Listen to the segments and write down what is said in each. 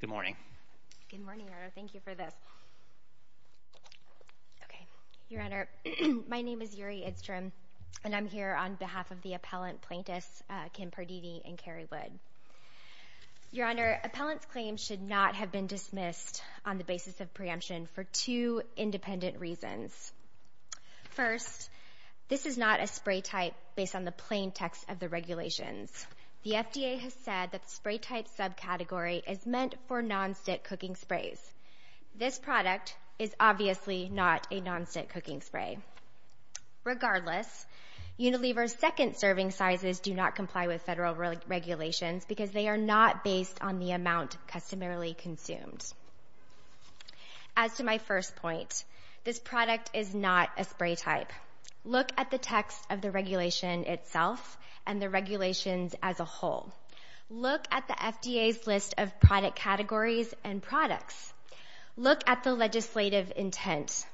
Good morning. Good morning, Your Honor. Thank you for this. Okay. Your Honor, my name is Yuri Idstrom, and I'm here on behalf of the appellant plaintiffs, Kym Pardini and Carrie Wood. Your Honor, appellants' claims should not have been dismissed on the basis of preemption for two independent reasons. First, this is not a spray type based on the plain text of the regulations. The FDA has said that the spray type subcategory is meant for non-stick cooking sprays. This product is obviously not a non-stick cooking spray. Regardless, Unilever's second serving sizes do not comply with federal regulations because they are not based on the amount customarily consumed. As to my first point, this product is not a spray type. Look at the text of the regulation itself and the regulations as a whole. Look at the FDA's list of product categories and products. Look at the legislative intent.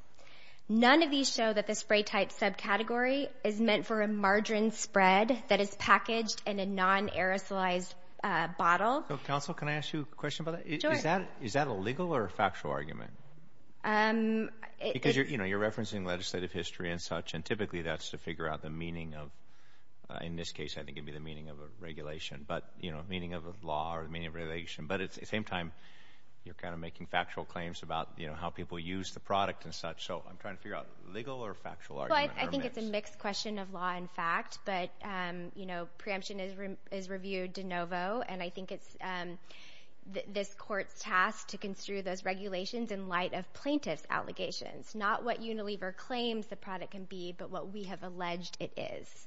None of these show that the spray type subcategory is meant for a margarine spread that is packaged in a non-aerosolized bottle. Counsel, can I ask you a question about that? Sure. Is that a legal or a factual argument? Because you're referencing legislative history and such. Typically, that's to figure out the meaning of, in this case, I think it would be the meaning of a regulation, meaning of a law or meaning of regulation. At the same time, you're kind of making factual claims about how people use the product and such. I'm trying to figure out legal or factual argument. I think it's a mixed question of law and fact. Preemption is reviewed de novo. I think it's this court's task to construe those regulations in light of plaintiff's allegations, not what Unilever claims the product can be but what we have alleged it is.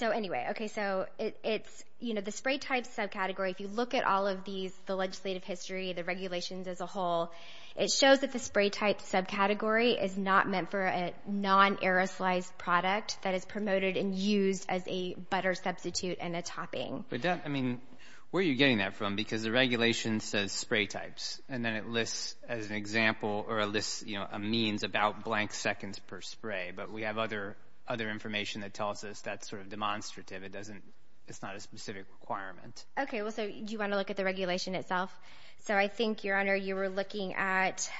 Anyway, the spray type subcategory, if you look at all of these, the legislative history, the regulations as a whole, it shows that the spray type subcategory is not meant for a non-aerosolized product that is promoted and used as a butter substitute and a topping. I mean, where are you getting that from? Because the regulation says spray types, and then it lists, as an example, or it lists a means about blank seconds per spray. But we have other information that tells us that's sort of demonstrative. It's not a specific requirement. Okay. So do you want to look at the regulation itself? So I think, Your Honor, you were looking at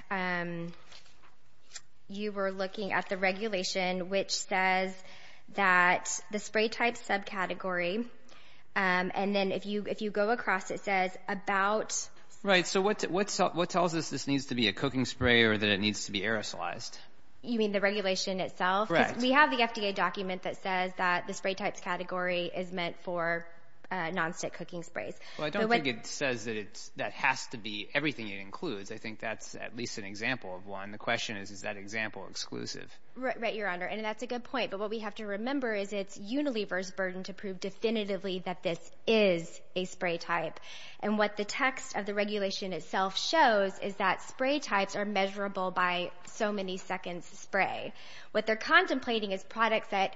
the regulation which says that the spray type subcategory, and then if you go across, it says about. Right. So what tells us this needs to be a cooking spray or that it needs to be aerosolized? You mean the regulation itself? Correct. Because we have the FDA document that says that the spray types category is meant for nonstick cooking sprays. Well, I don't think it says that that has to be everything it includes. I think that's at least an example of one. The question is, is that example exclusive? Right, Your Honor, and that's a good point. But what we have to remember is it's Unilever's burden to prove definitively that this is a spray type. And what the text of the regulation itself shows is that spray types are measurable by so many seconds spray. What they're contemplating is products that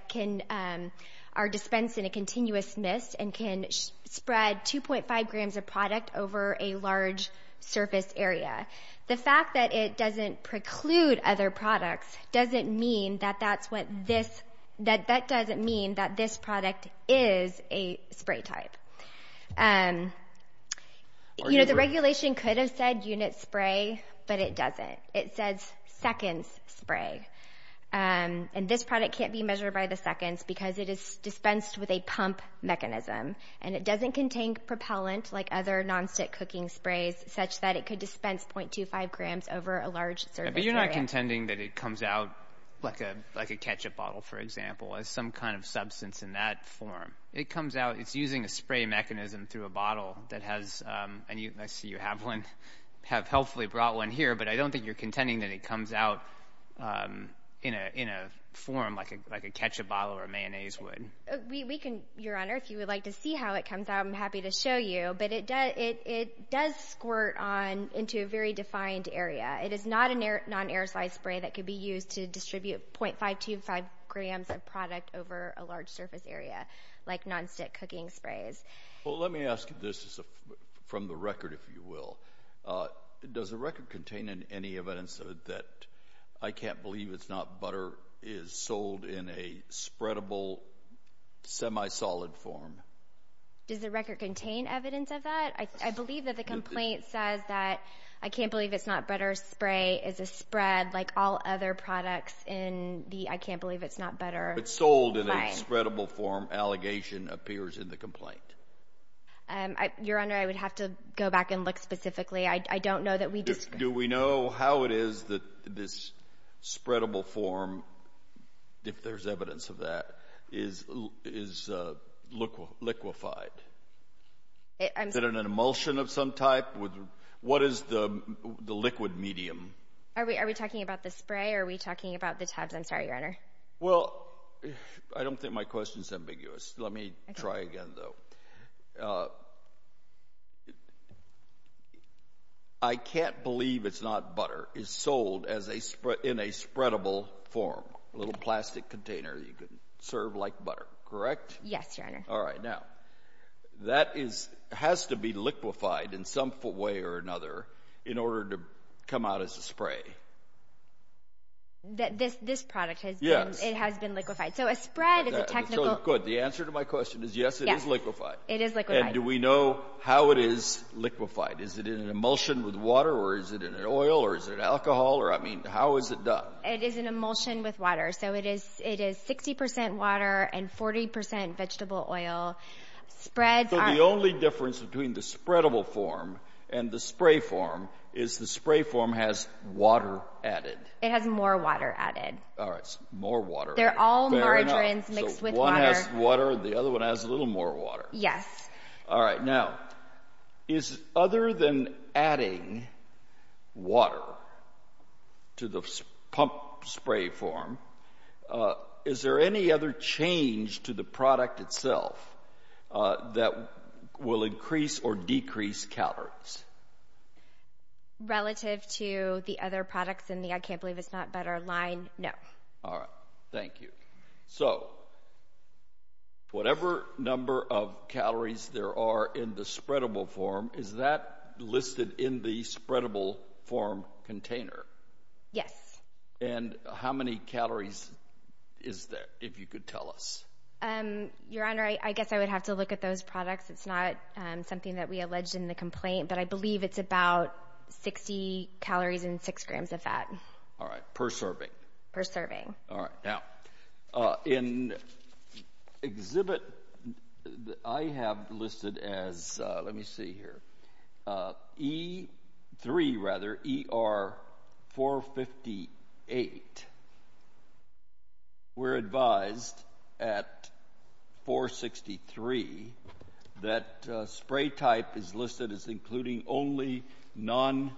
are dispensed in a continuous mist and can spread 2.5 grams of product over a large surface area. The fact that it doesn't preclude other products doesn't mean that that's what this – that that doesn't mean that this product is a spray type. The regulation could have said unit spray, but it doesn't. It says seconds spray, and this product can't be measured by the seconds because it is dispensed with a pump mechanism. And it doesn't contain propellant like other nonstick cooking sprays such that it could dispense 0.25 grams over a large surface area. But you're not contending that it comes out like a ketchup bottle, for example, as some kind of substance in that form. It comes out – it's using a spray mechanism through a bottle that has – You're contending that it comes out in a form like a ketchup bottle or a mayonnaise would. We can – Your Honor, if you would like to see how it comes out, I'm happy to show you. But it does squirt on into a very defined area. It is not a non-aerosol spray that could be used to distribute 0.525 grams of product over a large surface area like nonstick cooking sprays. Well, let me ask you this from the record, if you will. Does the record contain any evidence that I Can't Believe It's Not Butter is sold in a spreadable, semi-solid form? Does the record contain evidence of that? I believe that the complaint says that I Can't Believe It's Not Butter spray is a spread, like all other products in the I Can't Believe It's Not Butter line. But sold in a spreadable form allegation appears in the complaint. Your Honor, I would have to go back and look specifically. I don't know that we disagree. Do we know how it is that this spreadable form, if there's evidence of that, is liquefied? Is it an emulsion of some type? What is the liquid medium? Are we talking about the spray or are we talking about the tabs? I'm sorry, Your Honor. Well, I don't think my question is ambiguous. Let me try again, though. I Can't Believe It's Not Butter is sold in a spreadable form, a little plastic container you can serve like butter. Correct? Yes, Your Honor. All right. Now, that has to be liquefied in some way or another in order to come out as a spray. This product has been liquefied. Good. The answer to my question is yes, it is liquefied. It is liquefied. And do we know how it is liquefied? Is it in an emulsion with water or is it in an oil or is it alcohol? I mean, how is it done? It is an emulsion with water. So it is 60% water and 40% vegetable oil. So the only difference between the spreadable form and the spray form is the spray form has water added. It has more water added. All right. It has more water. They're all margarines mixed with water. So one has water and the other one has a little more water. Yes. All right. Now, is other than adding water to the pump spray form, is there any other change to the product itself that will increase or decrease calories? Relative to the other products in the I Can't Believe It's Not Butter line, no. All right. Thank you. So whatever number of calories there are in the spreadable form, is that listed in the spreadable form container? Yes. And how many calories is there, if you could tell us? Your Honor, I guess I would have to look at those products. It's not something that we alleged in the complaint, but I believe it's about 60 calories and 6 grams of fat. All right. Per serving? Per serving. All right. Now, in exhibit that I have listed as, let me see here, E3 rather, ER458, we're advised at 463 that spray type is listed as including only non-stick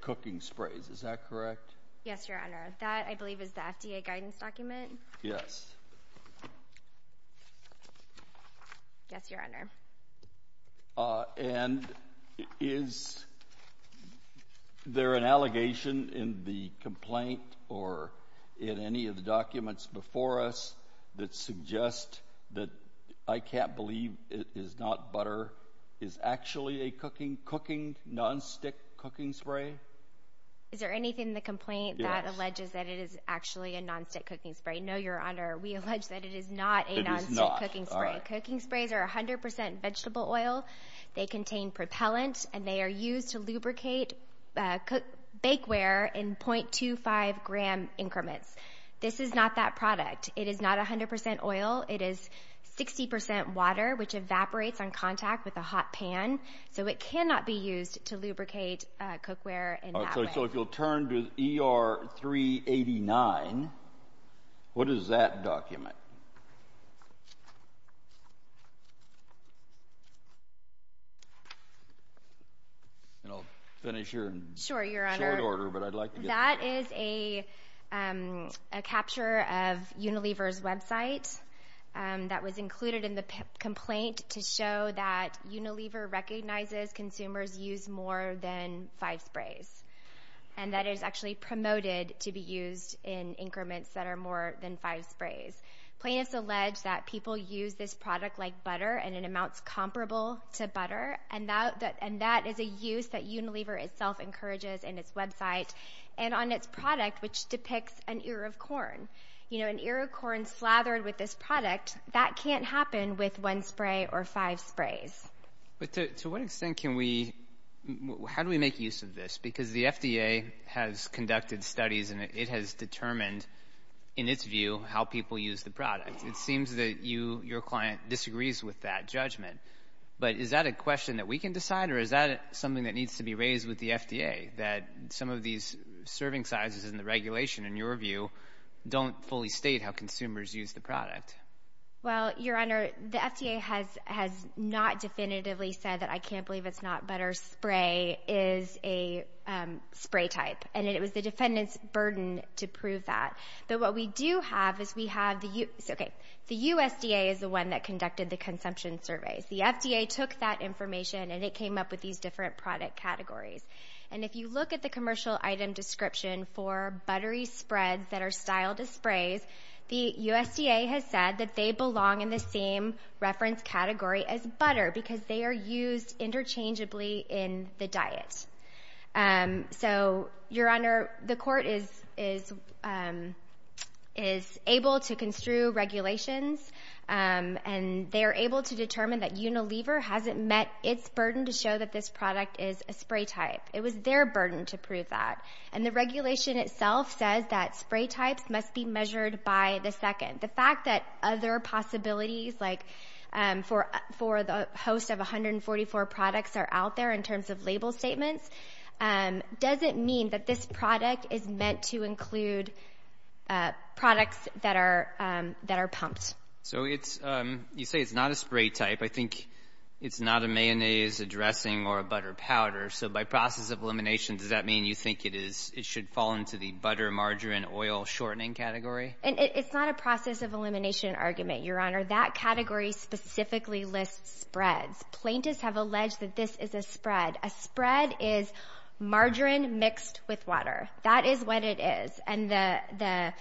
cooking sprays. Is that correct? Yes, Your Honor. That, I believe, is the FDA guidance document? Yes. Yes, Your Honor. And is there an allegation in the complaint or in any of the documents before us that suggest that I Can't Believe It's Not Butter is actually a cooking, non-stick cooking spray? Is there anything in the complaint that alleges that it is actually a non-stick cooking spray? No, Your Honor. We allege that it is not a non-stick cooking spray. It is not. All right. Cooking sprays are 100% vegetable oil. They contain propellant, and they are used to lubricate bakeware in 0.25 gram increments. This is not that product. It is not 100% oil. It is 60% water, which evaporates on contact with a hot pan, so it cannot be used to lubricate cookware in that way. All right. So if you'll turn to ER389, what is that document? And I'll finish here in short order, but I'd like to get to that. That is a capture of Unilever's website that was included in the complaint to show that Unilever recognizes consumers use more than five sprays, and that it is actually promoted to be used in increments that are more than five sprays. Plaintiffs allege that people use this product like butter and in amounts comparable to butter, and that is a use that Unilever itself encourages in its website and on its product, which depicts an ear of corn. You know, an ear of corn slathered with this product, that can't happen with one spray or five sprays. But to what extent can we – how do we make use of this? Because the FDA has conducted studies, and it has determined, in its view, how people use the product. It seems that you, your client, disagrees with that judgment. But is that a question that we can decide, or is that something that needs to be raised with the FDA, that some of these serving sizes and the regulation, in your view, don't fully state how consumers use the product? Well, Your Honor, the FDA has not definitively said that I can't believe it's not butter. Spray is a spray type, and it was the defendant's burden to prove that. But what we do have is we have – okay, the USDA is the one that conducted the consumption surveys. The FDA took that information, and it came up with these different product categories. And if you look at the commercial item description for buttery spreads that are styled as sprays, the USDA has said that they belong in the same reference category as butter because they are used interchangeably in the diet. So, Your Honor, the court is able to construe regulations, and they are able to determine that Unilever hasn't met its burden to show that this product is a spray type. It was their burden to prove that. And the regulation itself says that spray types must be measured by the second. The fact that other possibilities, like for the host of 144 products, are out there in terms of label statements, doesn't mean that this product is meant to include products that are pumped. So you say it's not a spray type. I think it's not a mayonnaise, a dressing, or a butter powder. So by process of elimination, does that mean you think it should fall into the butter, margarine, oil shortening category? It's not a process of elimination argument, Your Honor. That category specifically lists spreads. Plaintiffs have alleged that this is a spread. A spread is margarine mixed with water. That is what it is. And the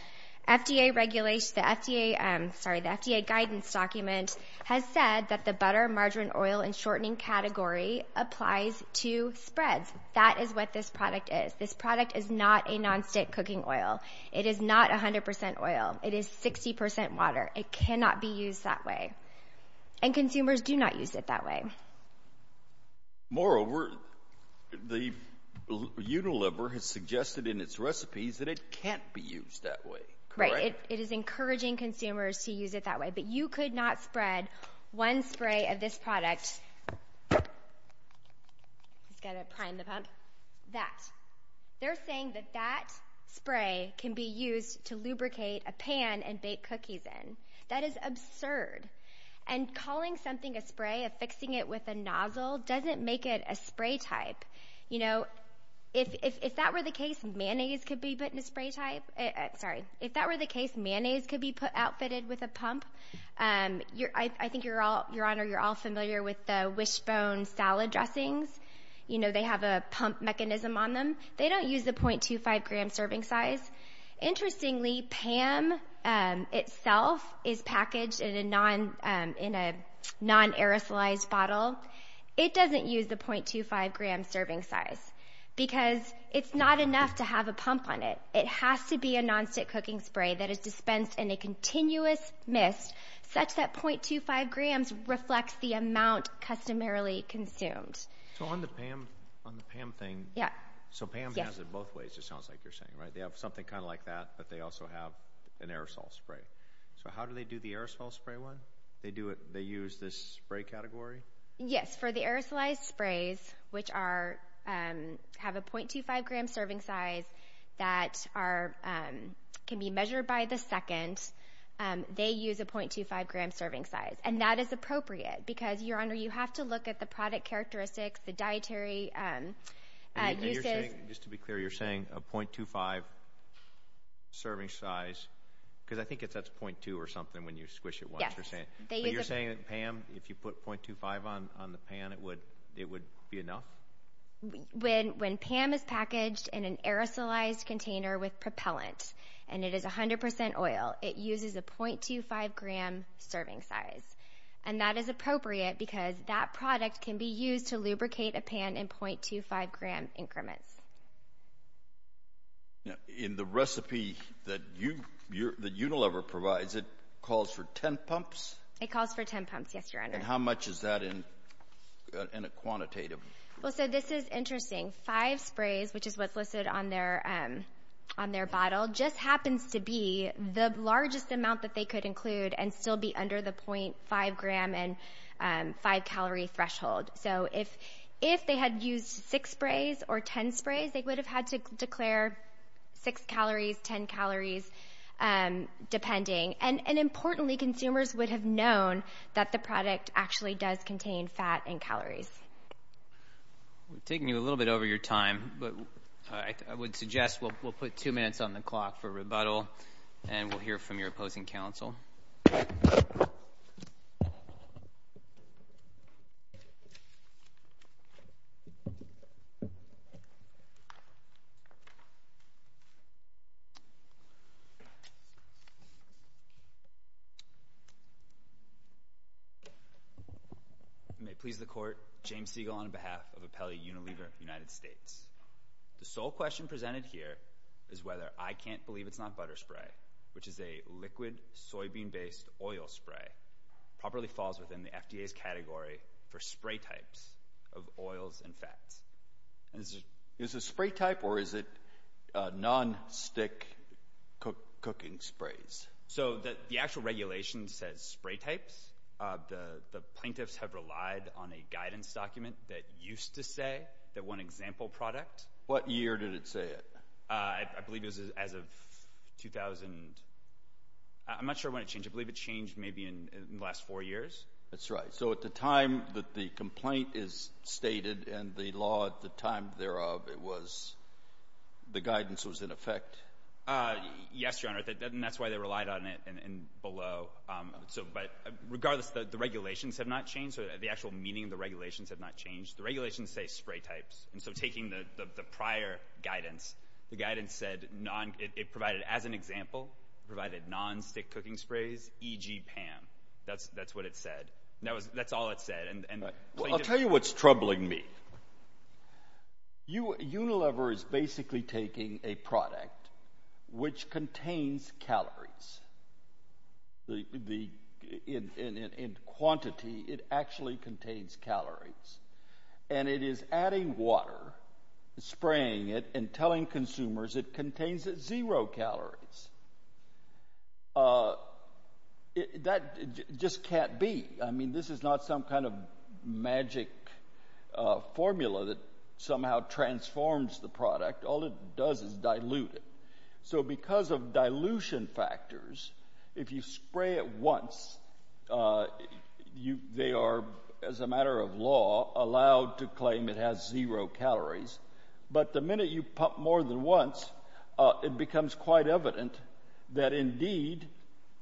FDA regulation, the FDA, sorry, the FDA guidance document has said that the butter, margarine, oil, and shortening category applies to spreads. That is what this product is. This product is not a nonstick cooking oil. It is not 100% oil. It is 60% water. It cannot be used that way. And consumers do not use it that way. Moreover, the Unilever has suggested in its recipes that it can't be used that way. Right. It is encouraging consumers to use it that way. But you could not spread one spray of this product. He's got to prime the pump. That. They're saying that that spray can be used to lubricate a pan and bake cookies in. That is absurd. And calling something a spray, affixing it with a nozzle, doesn't make it a spray type. You know, if that were the case, mayonnaise could be put in a spray type. Sorry. If that were the case, mayonnaise could be outfitted with a pump. I think, Your Honor, you're all familiar with the wishbone salad dressings. You know, they have a pump mechanism on them. They don't use the .25-gram serving size. Interestingly, Pam itself is packaged in a non-aerosolized bottle. It doesn't use the .25-gram serving size because it's not enough to have a pump on it. It has to be a nonstick cooking spray that is dispensed in a continuous mist, such that .25 grams reflects the amount customarily consumed. So on the Pam thing. Yeah. So Pam has it both ways, it sounds like you're saying, right? They have something kind of like that, but they also have an aerosol spray. So how do they do the aerosol spray one? They use this spray category? Yes. For the aerosolized sprays, which have a .25-gram serving size that can be measured by the second, they use a .25-gram serving size. And that is appropriate because, Your Honor, you have to look at the product characteristics, the dietary uses. Just to be clear, you're saying a .25 serving size because I think that's .2 or something when you squish it once. Yes. But you're saying that Pam, if you put .25 on the Pam, it would be enough? When Pam is packaged in an aerosolized container with propellant and it is 100% oil, it uses a .25-gram serving size. And that is appropriate because that product can be used to lubricate a pan in .25-gram increments. In the recipe that Unilever provides, it calls for 10 pumps? It calls for 10 pumps, yes, Your Honor. And how much is that in a quantitative? Well, so this is interesting. Five sprays, which is what's listed on their bottle, just happens to be the largest amount that they could include and still be under the .5-gram and 5-calorie threshold. So if they had used 6 sprays or 10 sprays, they would have had to declare 6 calories, 10 calories, depending. And importantly, consumers would have known that the product actually does contain fat and calories. We're taking you a little bit over your time, but I would suggest we'll put two minutes on the clock for rebuttal, and we'll hear from your opposing counsel. Thank you. May it please the Court, James Siegel on behalf of Apelli Unilever United States. The sole question presented here is whether I can't believe it's not butter spray, which is a liquid soybean-based oil spray. It probably falls within the FDA's category for spray types of oils and fats. Is it a spray type, or is it non-stick cooking sprays? So the actual regulation says spray types. The plaintiffs have relied on a guidance document that used to say that one example product. What year did it say it? I believe it was as of 2000. I'm not sure when it changed. I believe it changed maybe in the last four years. That's right. So at the time that the complaint is stated and the law at the time thereof, the guidance was in effect? Yes, Your Honor, and that's why they relied on it and below. But regardless, the regulations have not changed. The actual meaning of the regulations have not changed. The regulations say spray types. So taking the prior guidance, the guidance said it provided, as an example, it provided non-stick cooking sprays, e.g. PAM. That's what it said. That's all it said. I'll tell you what's troubling me. Unilever is basically taking a product which contains calories. In quantity, it actually contains calories. And it is adding water, spraying it, and telling consumers it contains zero calories. That just can't be. I mean, this is not some kind of magic formula that somehow transforms the product. All it does is dilute it. So because of dilution factors, if you spray it once, they are, as a matter of law, allowed to claim it has zero calories. But the minute you pump more than once, it becomes quite evident that, indeed,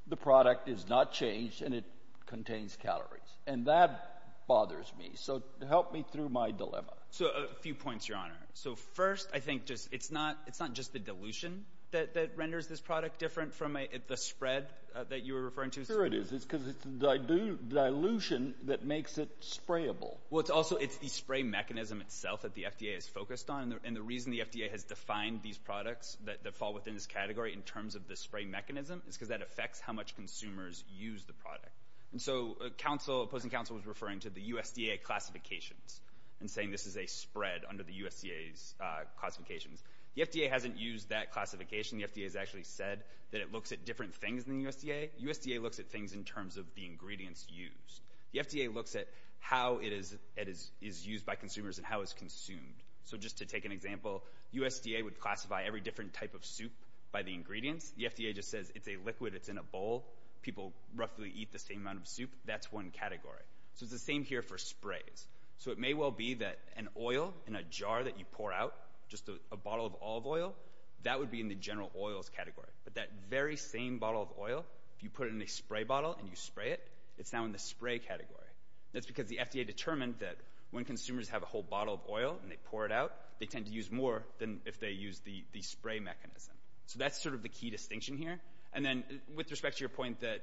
the product is not changed and it contains calories. And that bothers me. So help me through my dilemma. So a few points, Your Honor. So first, I think it's not just the dilution that renders this product different from the spread that you were referring to. Sure it is. It's because it's the dilution that makes it sprayable. Well, it's also the spray mechanism itself that the FDA is focused on. And the reason the FDA has defined these products that fall within this category in terms of the spray mechanism is because that affects how much consumers use the product. And so opposing counsel was referring to the USDA classifications and saying this is a spread under the USDA's classifications. The FDA hasn't used that classification. The FDA has actually said that it looks at different things than the USDA. USDA looks at things in terms of the ingredients used. The FDA looks at how it is used by consumers and how it's consumed. So just to take an example, USDA would classify every different type of soup by the ingredients. The FDA just says it's a liquid, it's in a bowl. People roughly eat the same amount of soup. That's one category. So it's the same here for sprays. So it may well be that an oil in a jar that you pour out, just a bottle of olive oil, that would be in the general oils category. But that very same bottle of oil, if you put it in a spray bottle and you spray it, it's now in the spray category. That's because the FDA determined that when consumers have a whole bottle of oil and they pour it out, they tend to use more than if they use the spray mechanism. So that's sort of the key distinction here. And then with respect to your point that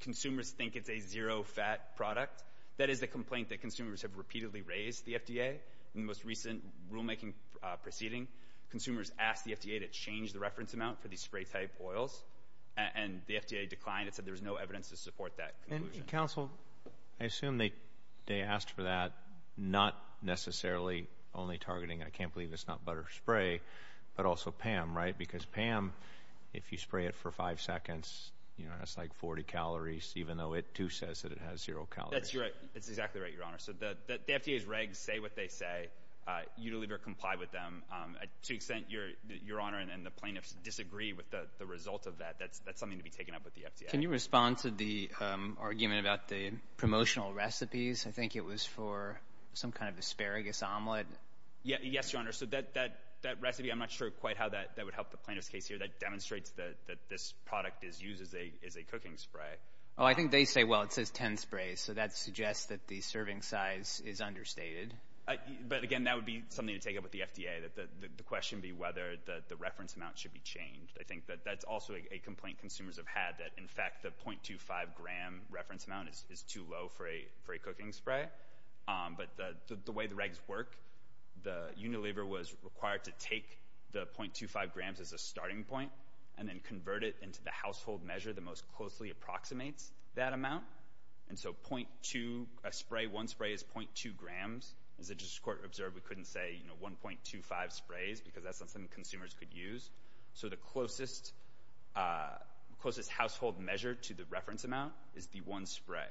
consumers think it's a zero-fat product, that is the complaint that consumers have repeatedly raised the FDA. In the most recent rulemaking proceeding, consumers asked the FDA to change the reference amount for these spray-type oils, and the FDA declined. It said there was no evidence to support that conclusion. And, counsel, I assume they asked for that not necessarily only targeting, I can't believe it's not butter spray, but also Pam, right? Because, Pam, if you spray it for five seconds, it's like 40 calories, even though it, too, says that it has zero calories. That's exactly right, Your Honor. So the FDA's regs say what they say. You deliberately comply with them. To an extent, Your Honor and the plaintiffs disagree with the result of that. That's something to be taken up with the FDA. Can you respond to the argument about the promotional recipes? Yes, Your Honor. So that recipe, I'm not sure quite how that would help the plaintiff's case here. That demonstrates that this product is used as a cooking spray. Oh, I think they say, well, it says 10 sprays, so that suggests that the serving size is understated. But, again, that would be something to take up with the FDA, that the question be whether the reference amount should be changed. I think that that's also a complaint consumers have had, that, in fact, the 0.25-gram reference amount is too low for a cooking spray. But the way the regs work, the Unilever was required to take the 0.25 grams as a starting point and then convert it into the household measure that most closely approximates that amount. And so 0.2, a spray, one spray is 0.2 grams. As the District Court observed, we couldn't say, you know, 1.25 sprays because that's not something consumers could use. So the closest household measure to the reference amount is the one spray.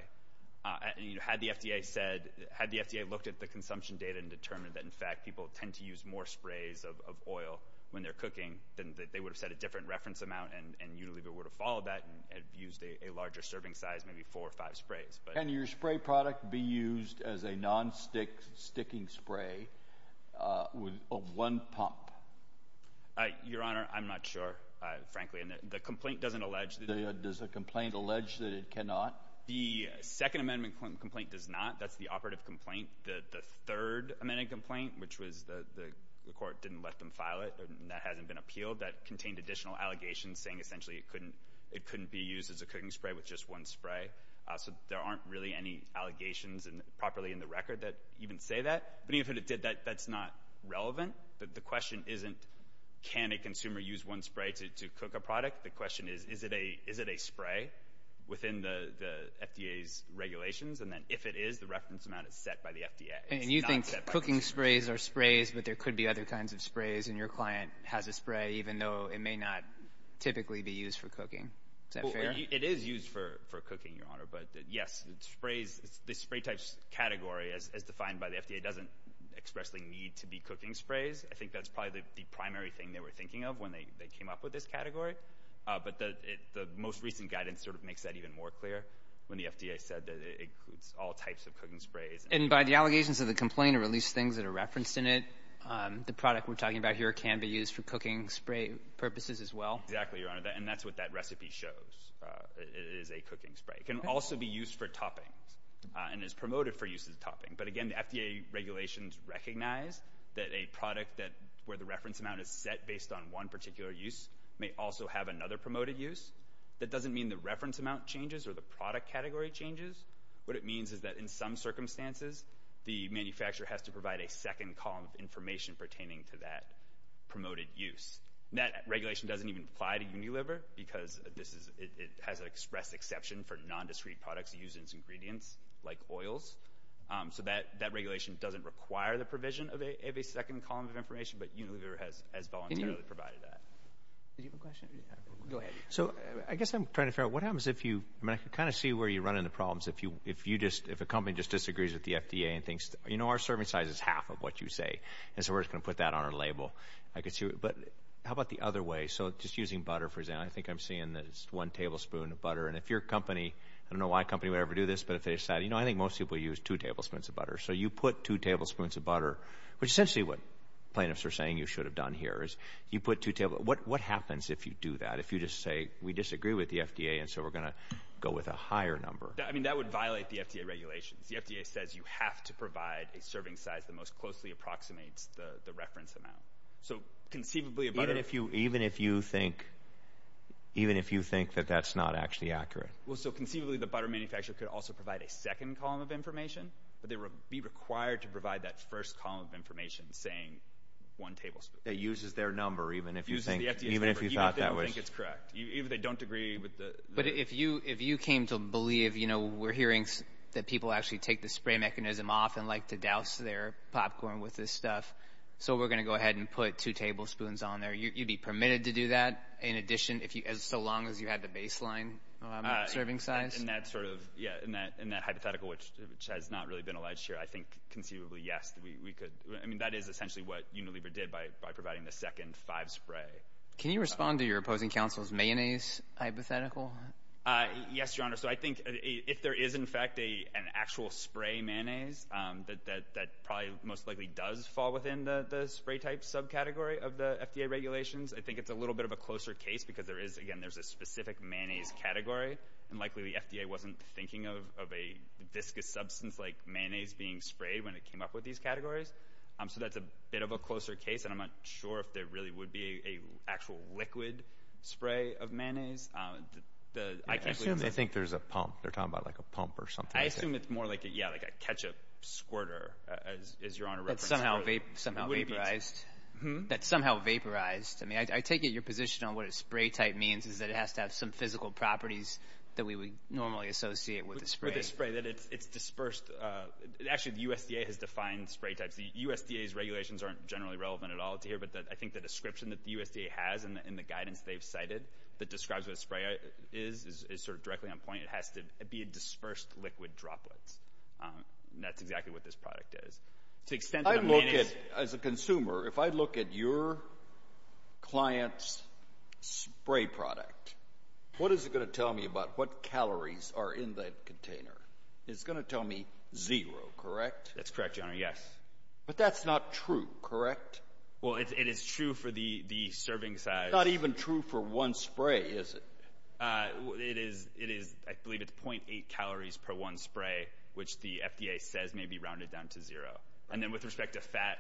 Had the FDA looked at the consumption data and determined that, in fact, people tend to use more sprays of oil when they're cooking, then they would have said a different reference amount, and Unilever would have followed that and used a larger serving size, maybe four or five sprays. Can your spray product be used as a non-sticking spray of one pump? Your Honor, I'm not sure, frankly. And the complaint doesn't allege that it can. Does the complaint allege that it cannot? The Second Amendment complaint does not. That's the operative complaint. The Third Amendment complaint, which was the court didn't let them file it and that hasn't been appealed, that contained additional allegations saying essentially it couldn't be used as a cooking spray with just one spray. So there aren't really any allegations properly in the record that even say that. But even if it did, that's not relevant. The question isn't can a consumer use one spray to cook a product. The question is, is it a spray within the FDA's regulations? And then if it is, the reference amount is set by the FDA. And you think cooking sprays are sprays, but there could be other kinds of sprays, and your client has a spray even though it may not typically be used for cooking. Is that fair? It is used for cooking, Your Honor. But, yes, the spray types category as defined by the FDA doesn't expressly need to be cooking sprays. I think that's probably the primary thing they were thinking of when they came up with this category. But the most recent guidance sort of makes that even more clear when the FDA said that it includes all types of cooking sprays. And by the allegations of the complaint or at least things that are referenced in it, the product we're talking about here can be used for cooking spray purposes as well? Exactly, Your Honor, and that's what that recipe shows. It is a cooking spray. It can also be used for toppings and is promoted for use as a topping. But, again, the FDA regulations recognize that a product where the reference amount is set based on one particular use may also have another promoted use. That doesn't mean the reference amount changes or the product category changes. What it means is that in some circumstances, the manufacturer has to provide a second column of information pertaining to that promoted use. That regulation doesn't even apply to Unilever because it has an express exception for nondiscrete products used in its ingredients like oils. So that regulation doesn't require the provision of a second column of information, but Unilever has voluntarily provided that. Do you have a question? Go ahead. So I guess I'm trying to figure out what happens if you, I mean, I can kind of see where you run into problems if you just, if a company just disagrees with the FDA and thinks, you know, our serving size is half of what you say, and so we're just going to put that on our label. But how about the other way? So just using butter, for example, I think I'm seeing that it's one tablespoon of butter. And if your company, I don't know why a company would ever do this, but if they decide, you know, I think most people use two tablespoons of butter. So you put two tablespoons of butter, which essentially what plaintiffs are saying you should have done here is you put two tablespoons. What happens if you do that, if you just say we disagree with the FDA and so we're going to go with a higher number? I mean, that would violate the FDA regulations. The FDA says you have to provide a serving size that most closely approximates the reference amount. So conceivably a butter. Even if you think that that's not actually accurate. But they would be required to provide that first column of information saying one tablespoon. That uses their number even if you think, even if you thought that was. Even if they don't think it's correct. Even if they don't agree with the. But if you came to believe, you know, we're hearing that people actually take the spray mechanism off and like to douse their popcorn with this stuff, so we're going to go ahead and put two tablespoons on there. You'd be permitted to do that? In addition, so long as you had the baseline serving size? In that hypothetical, which has not really been alleged here, I think conceivably, yes, we could. I mean, that is essentially what Unilever did by providing the second five spray. Can you respond to your opposing counsel's mayonnaise hypothetical? Yes, Your Honor. So I think if there is in fact an actual spray mayonnaise that probably most likely does fall within the spray type subcategory of the FDA regulations, I think it's a little bit of a closer case because there is, again, there's a specific mayonnaise category and likely the FDA wasn't thinking of a viscous substance like mayonnaise being sprayed when it came up with these categories. So that's a bit of a closer case, and I'm not sure if there really would be an actual liquid spray of mayonnaise. I think there's a pump. They're talking about like a pump or something. I assume it's more like a ketchup squirter, as Your Honor referenced. That's somehow vaporized. That's somehow vaporized. I mean, I take it your position on what a spray type means is that it has to have some physical properties that we would normally associate with a spray. With a spray, that it's dispersed. Actually, the USDA has defined spray types. The USDA's regulations aren't generally relevant at all to here, but I think the description that the USDA has in the guidance they've cited that describes what a spray is is sort of directly on point. It has to be a dispersed liquid droplet. That's exactly what this product is. As a consumer, if I look at your client's spray product, what is it going to tell me about what calories are in that container? It's going to tell me zero, correct? That's correct, Your Honor, yes. But that's not true, correct? Well, it is true for the serving size. It's not even true for one spray, is it? I believe it's .8 calories per one spray, which the FDA says may be rounded down to zero. And then with respect to fat,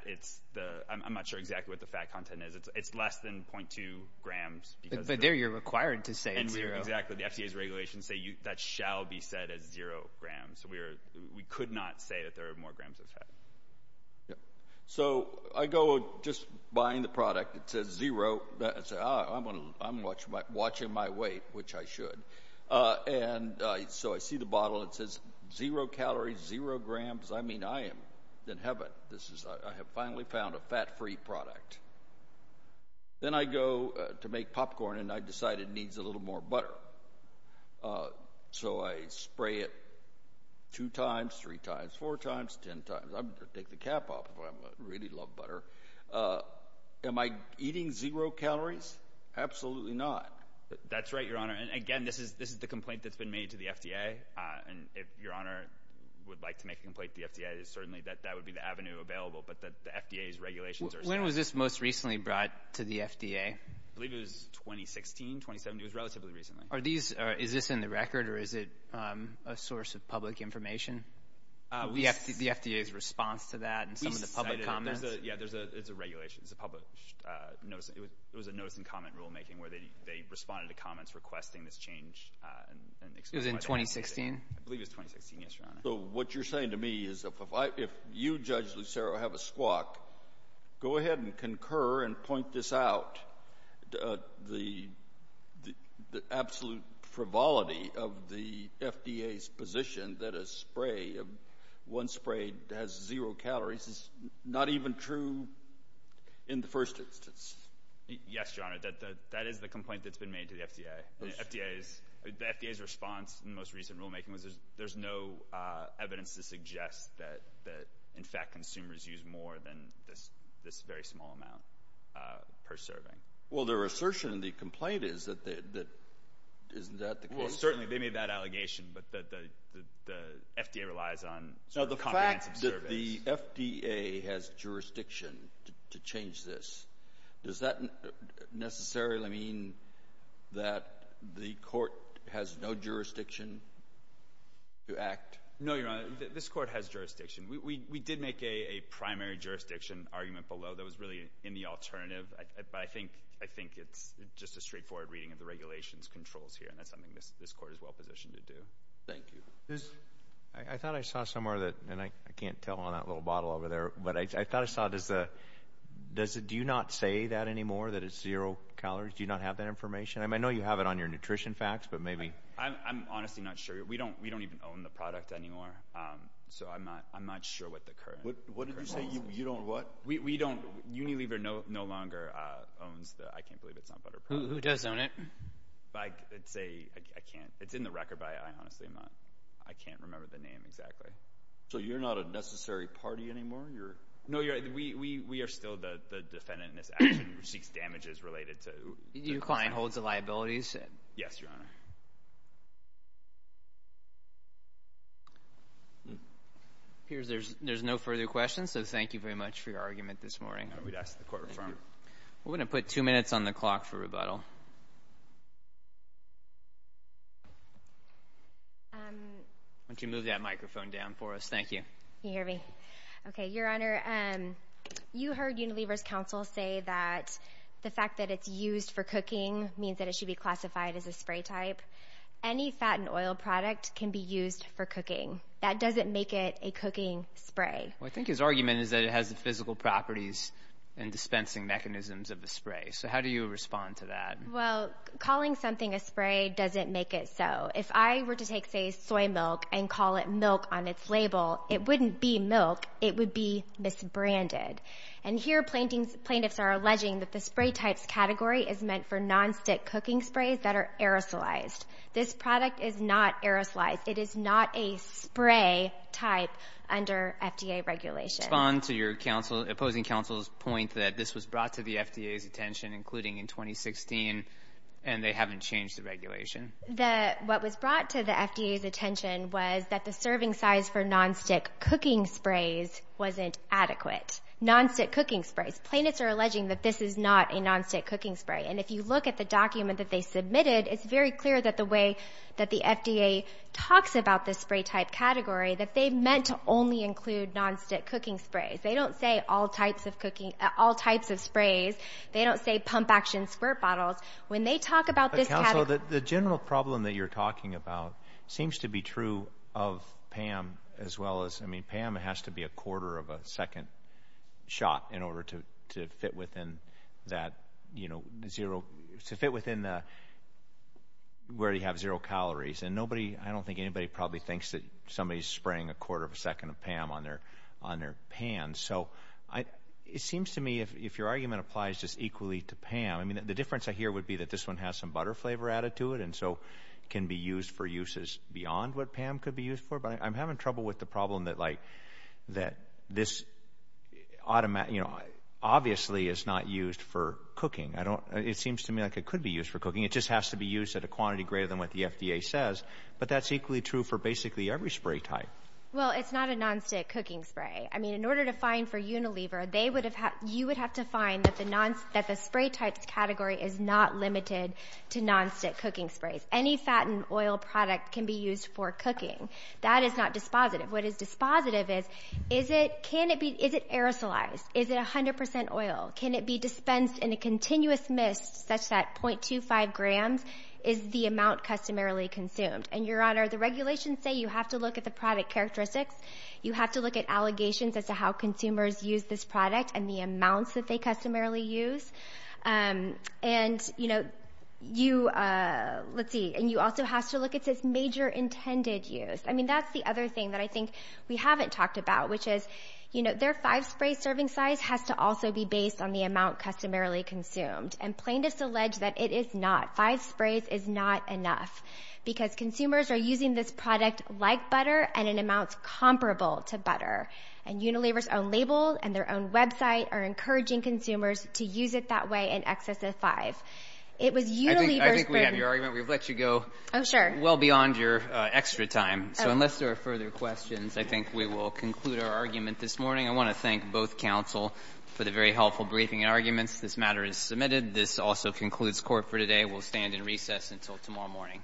I'm not sure exactly what the fat content is. It's less than .2 grams. But there you're required to say it's zero. Exactly. The FDA's regulations say that shall be said as zero grams. We could not say that there are more grams of fat. So I go just buying the product. It says zero. I say, ah, I'm watching my weight, which I should. And so I see the bottle. It says zero calories, zero grams. I mean, I am in heaven. I have finally found a fat-free product. Then I go to make popcorn, and I decide it needs a little more butter. So I spray it two times, three times, four times, ten times. I'm going to take the cap off if I really love butter. Am I eating zero calories? Absolutely not. That's right, Your Honor. And, again, this is the complaint that's been made to the FDA. And if Your Honor would like to make a complaint to the FDA, certainly that would be the avenue available. But the FDA's regulations are set up. When was this most recently brought to the FDA? I believe it was 2016, 2017. It was relatively recently. Is this in the record, or is it a source of public information, the FDA's response to that and some of the public comments? Yeah, it's a regulation. It's a public notice. It was a notice in comment rulemaking where they responded to comments requesting this change. It was in 2016? I believe it was 2016, yes, Your Honor. So what you're saying to me is if you, Judge Lucero, have a squawk, go ahead and concur and point this out, the absolute frivolity of the FDA's position that a spray, a spray has zero calories is not even true in the first instance? Yes, Your Honor, that is the complaint that's been made to the FDA. The FDA's response in the most recent rulemaking was there's no evidence to suggest that, in fact, consumers use more than this very small amount per serving. Well, their assertion in the complaint is that isn't that the case? Well, certainly they made that allegation, but the FDA relies on comprehensive surveys. Now, the fact that the FDA has jurisdiction to change this, does that necessarily mean that the court has no jurisdiction to act? No, Your Honor, this court has jurisdiction. We did make a primary jurisdiction argument below that was really in the alternative, but I think it's just a straightforward reading of the regulation's controls here, and that's something this court is well-positioned to do. Thank you. I thought I saw somewhere that, and I can't tell on that little bottle over there, but I thought I saw, do you not say that anymore, that it's zero calories? Do you not have that information? I mean, I know you have it on your nutrition facts, but maybe. I'm honestly not sure. We don't even own the product anymore, so I'm not sure what the current rules are. What did you say? You don't what? We don't. Unilever no longer owns the I Can't Believe It's Not Butter product. Who does own it? I'd say I can't. It's in the record by I honestly am not. I can't remember the name exactly. So you're not a necessary party anymore? No, we are still the defendant in this action who seeks damages related to the client. Your client holds the liabilities? Yes, Your Honor. It appears there's no further questions, so thank you very much for your argument this morning. I would ask that the court refer. We're going to put two minutes on the clock for rebuttal. Why don't you move that microphone down for us? Thank you. Can you hear me? Okay. Your Honor, you heard Unilever's counsel say that the fact that it's used for cooking means that it should be classified as a spray type. Any fat and oil product can be used for cooking. That doesn't make it a cooking spray. Well, I think his argument is that it has the physical properties and dispensing mechanisms of a spray. So how do you respond to that? Well, calling something a spray doesn't make it so. If I were to take, say, soy milk and call it milk on its label, it wouldn't be milk. It would be misbranded. And here plaintiffs are alleging that the spray types category is meant for nonstick cooking sprays that are aerosolized. This product is not aerosolized. It is not a spray type under FDA regulation. Respond to opposing counsel's point that this was brought to the FDA's attention, including in 2016, and they haven't changed the regulation. What was brought to the FDA's attention was that the serving size for nonstick cooking sprays wasn't adequate. Nonstick cooking sprays. Plaintiffs are alleging that this is not a nonstick cooking spray. And if you look at the document that they submitted, it's very clear that the way that the FDA talks about this spray type category, that they meant to only include nonstick cooking sprays. They don't say all types of cooking, all types of sprays. They don't say pump action squirt bottles. When they talk about this category. But, counsel, the general problem that you're talking about seems to be true of PAM as well as, I mean, PAM has to be a quarter of a second shot in order to fit within that, you know, to fit within where you have zero calories. And nobody, I don't think anybody probably thinks that somebody's spraying a quarter of a second of PAM on their pan. So it seems to me if your argument applies just equally to PAM, I mean, the difference I hear would be that this one has some butter flavor added to it and so can be used for uses beyond what PAM could be used for. But I'm having trouble with the problem that, like, that this automatically, you know, obviously is not used for cooking. I don't, it seems to me like it could be used for cooking. It just has to be used at a quantity greater than what the FDA says. But that's equally true for basically every spray type. Well, it's not a nonstick cooking spray. I mean, in order to find for Unilever, they would have, you would have to find that the spray type category is not limited to nonstick cooking sprays. Any fat and oil product can be used for cooking. That is not dispositive. What is dispositive is, is it, can it be, is it aerosolized? Is it 100% oil? Can it be dispensed in a continuous mist such that 0.25 grams is the amount customarily consumed? And, Your Honor, the regulations say you have to look at the product characteristics. You have to look at allegations as to how consumers use this product and the amounts that they customarily use. And, you know, you, let's see, and you also have to look at its major intended use. I mean, that's the other thing that I think we haven't talked about, which is, you know, their five-spray serving size has to also be based on the amount customarily consumed. And plaintiffs allege that it is not. Five sprays is not enough because consumers are using this product like butter and in amounts comparable to butter. And Unilever's own label and their own website are encouraging consumers to use it that way in excess of five. It was Unilever's burden. I think we have your argument. We've let you go well beyond your extra time. So unless there are further questions, I think we will conclude our argument this morning. I want to thank both counsel for the very helpful briefing and arguments. This matter is submitted. This also concludes court for today. We'll stand in recess until tomorrow morning.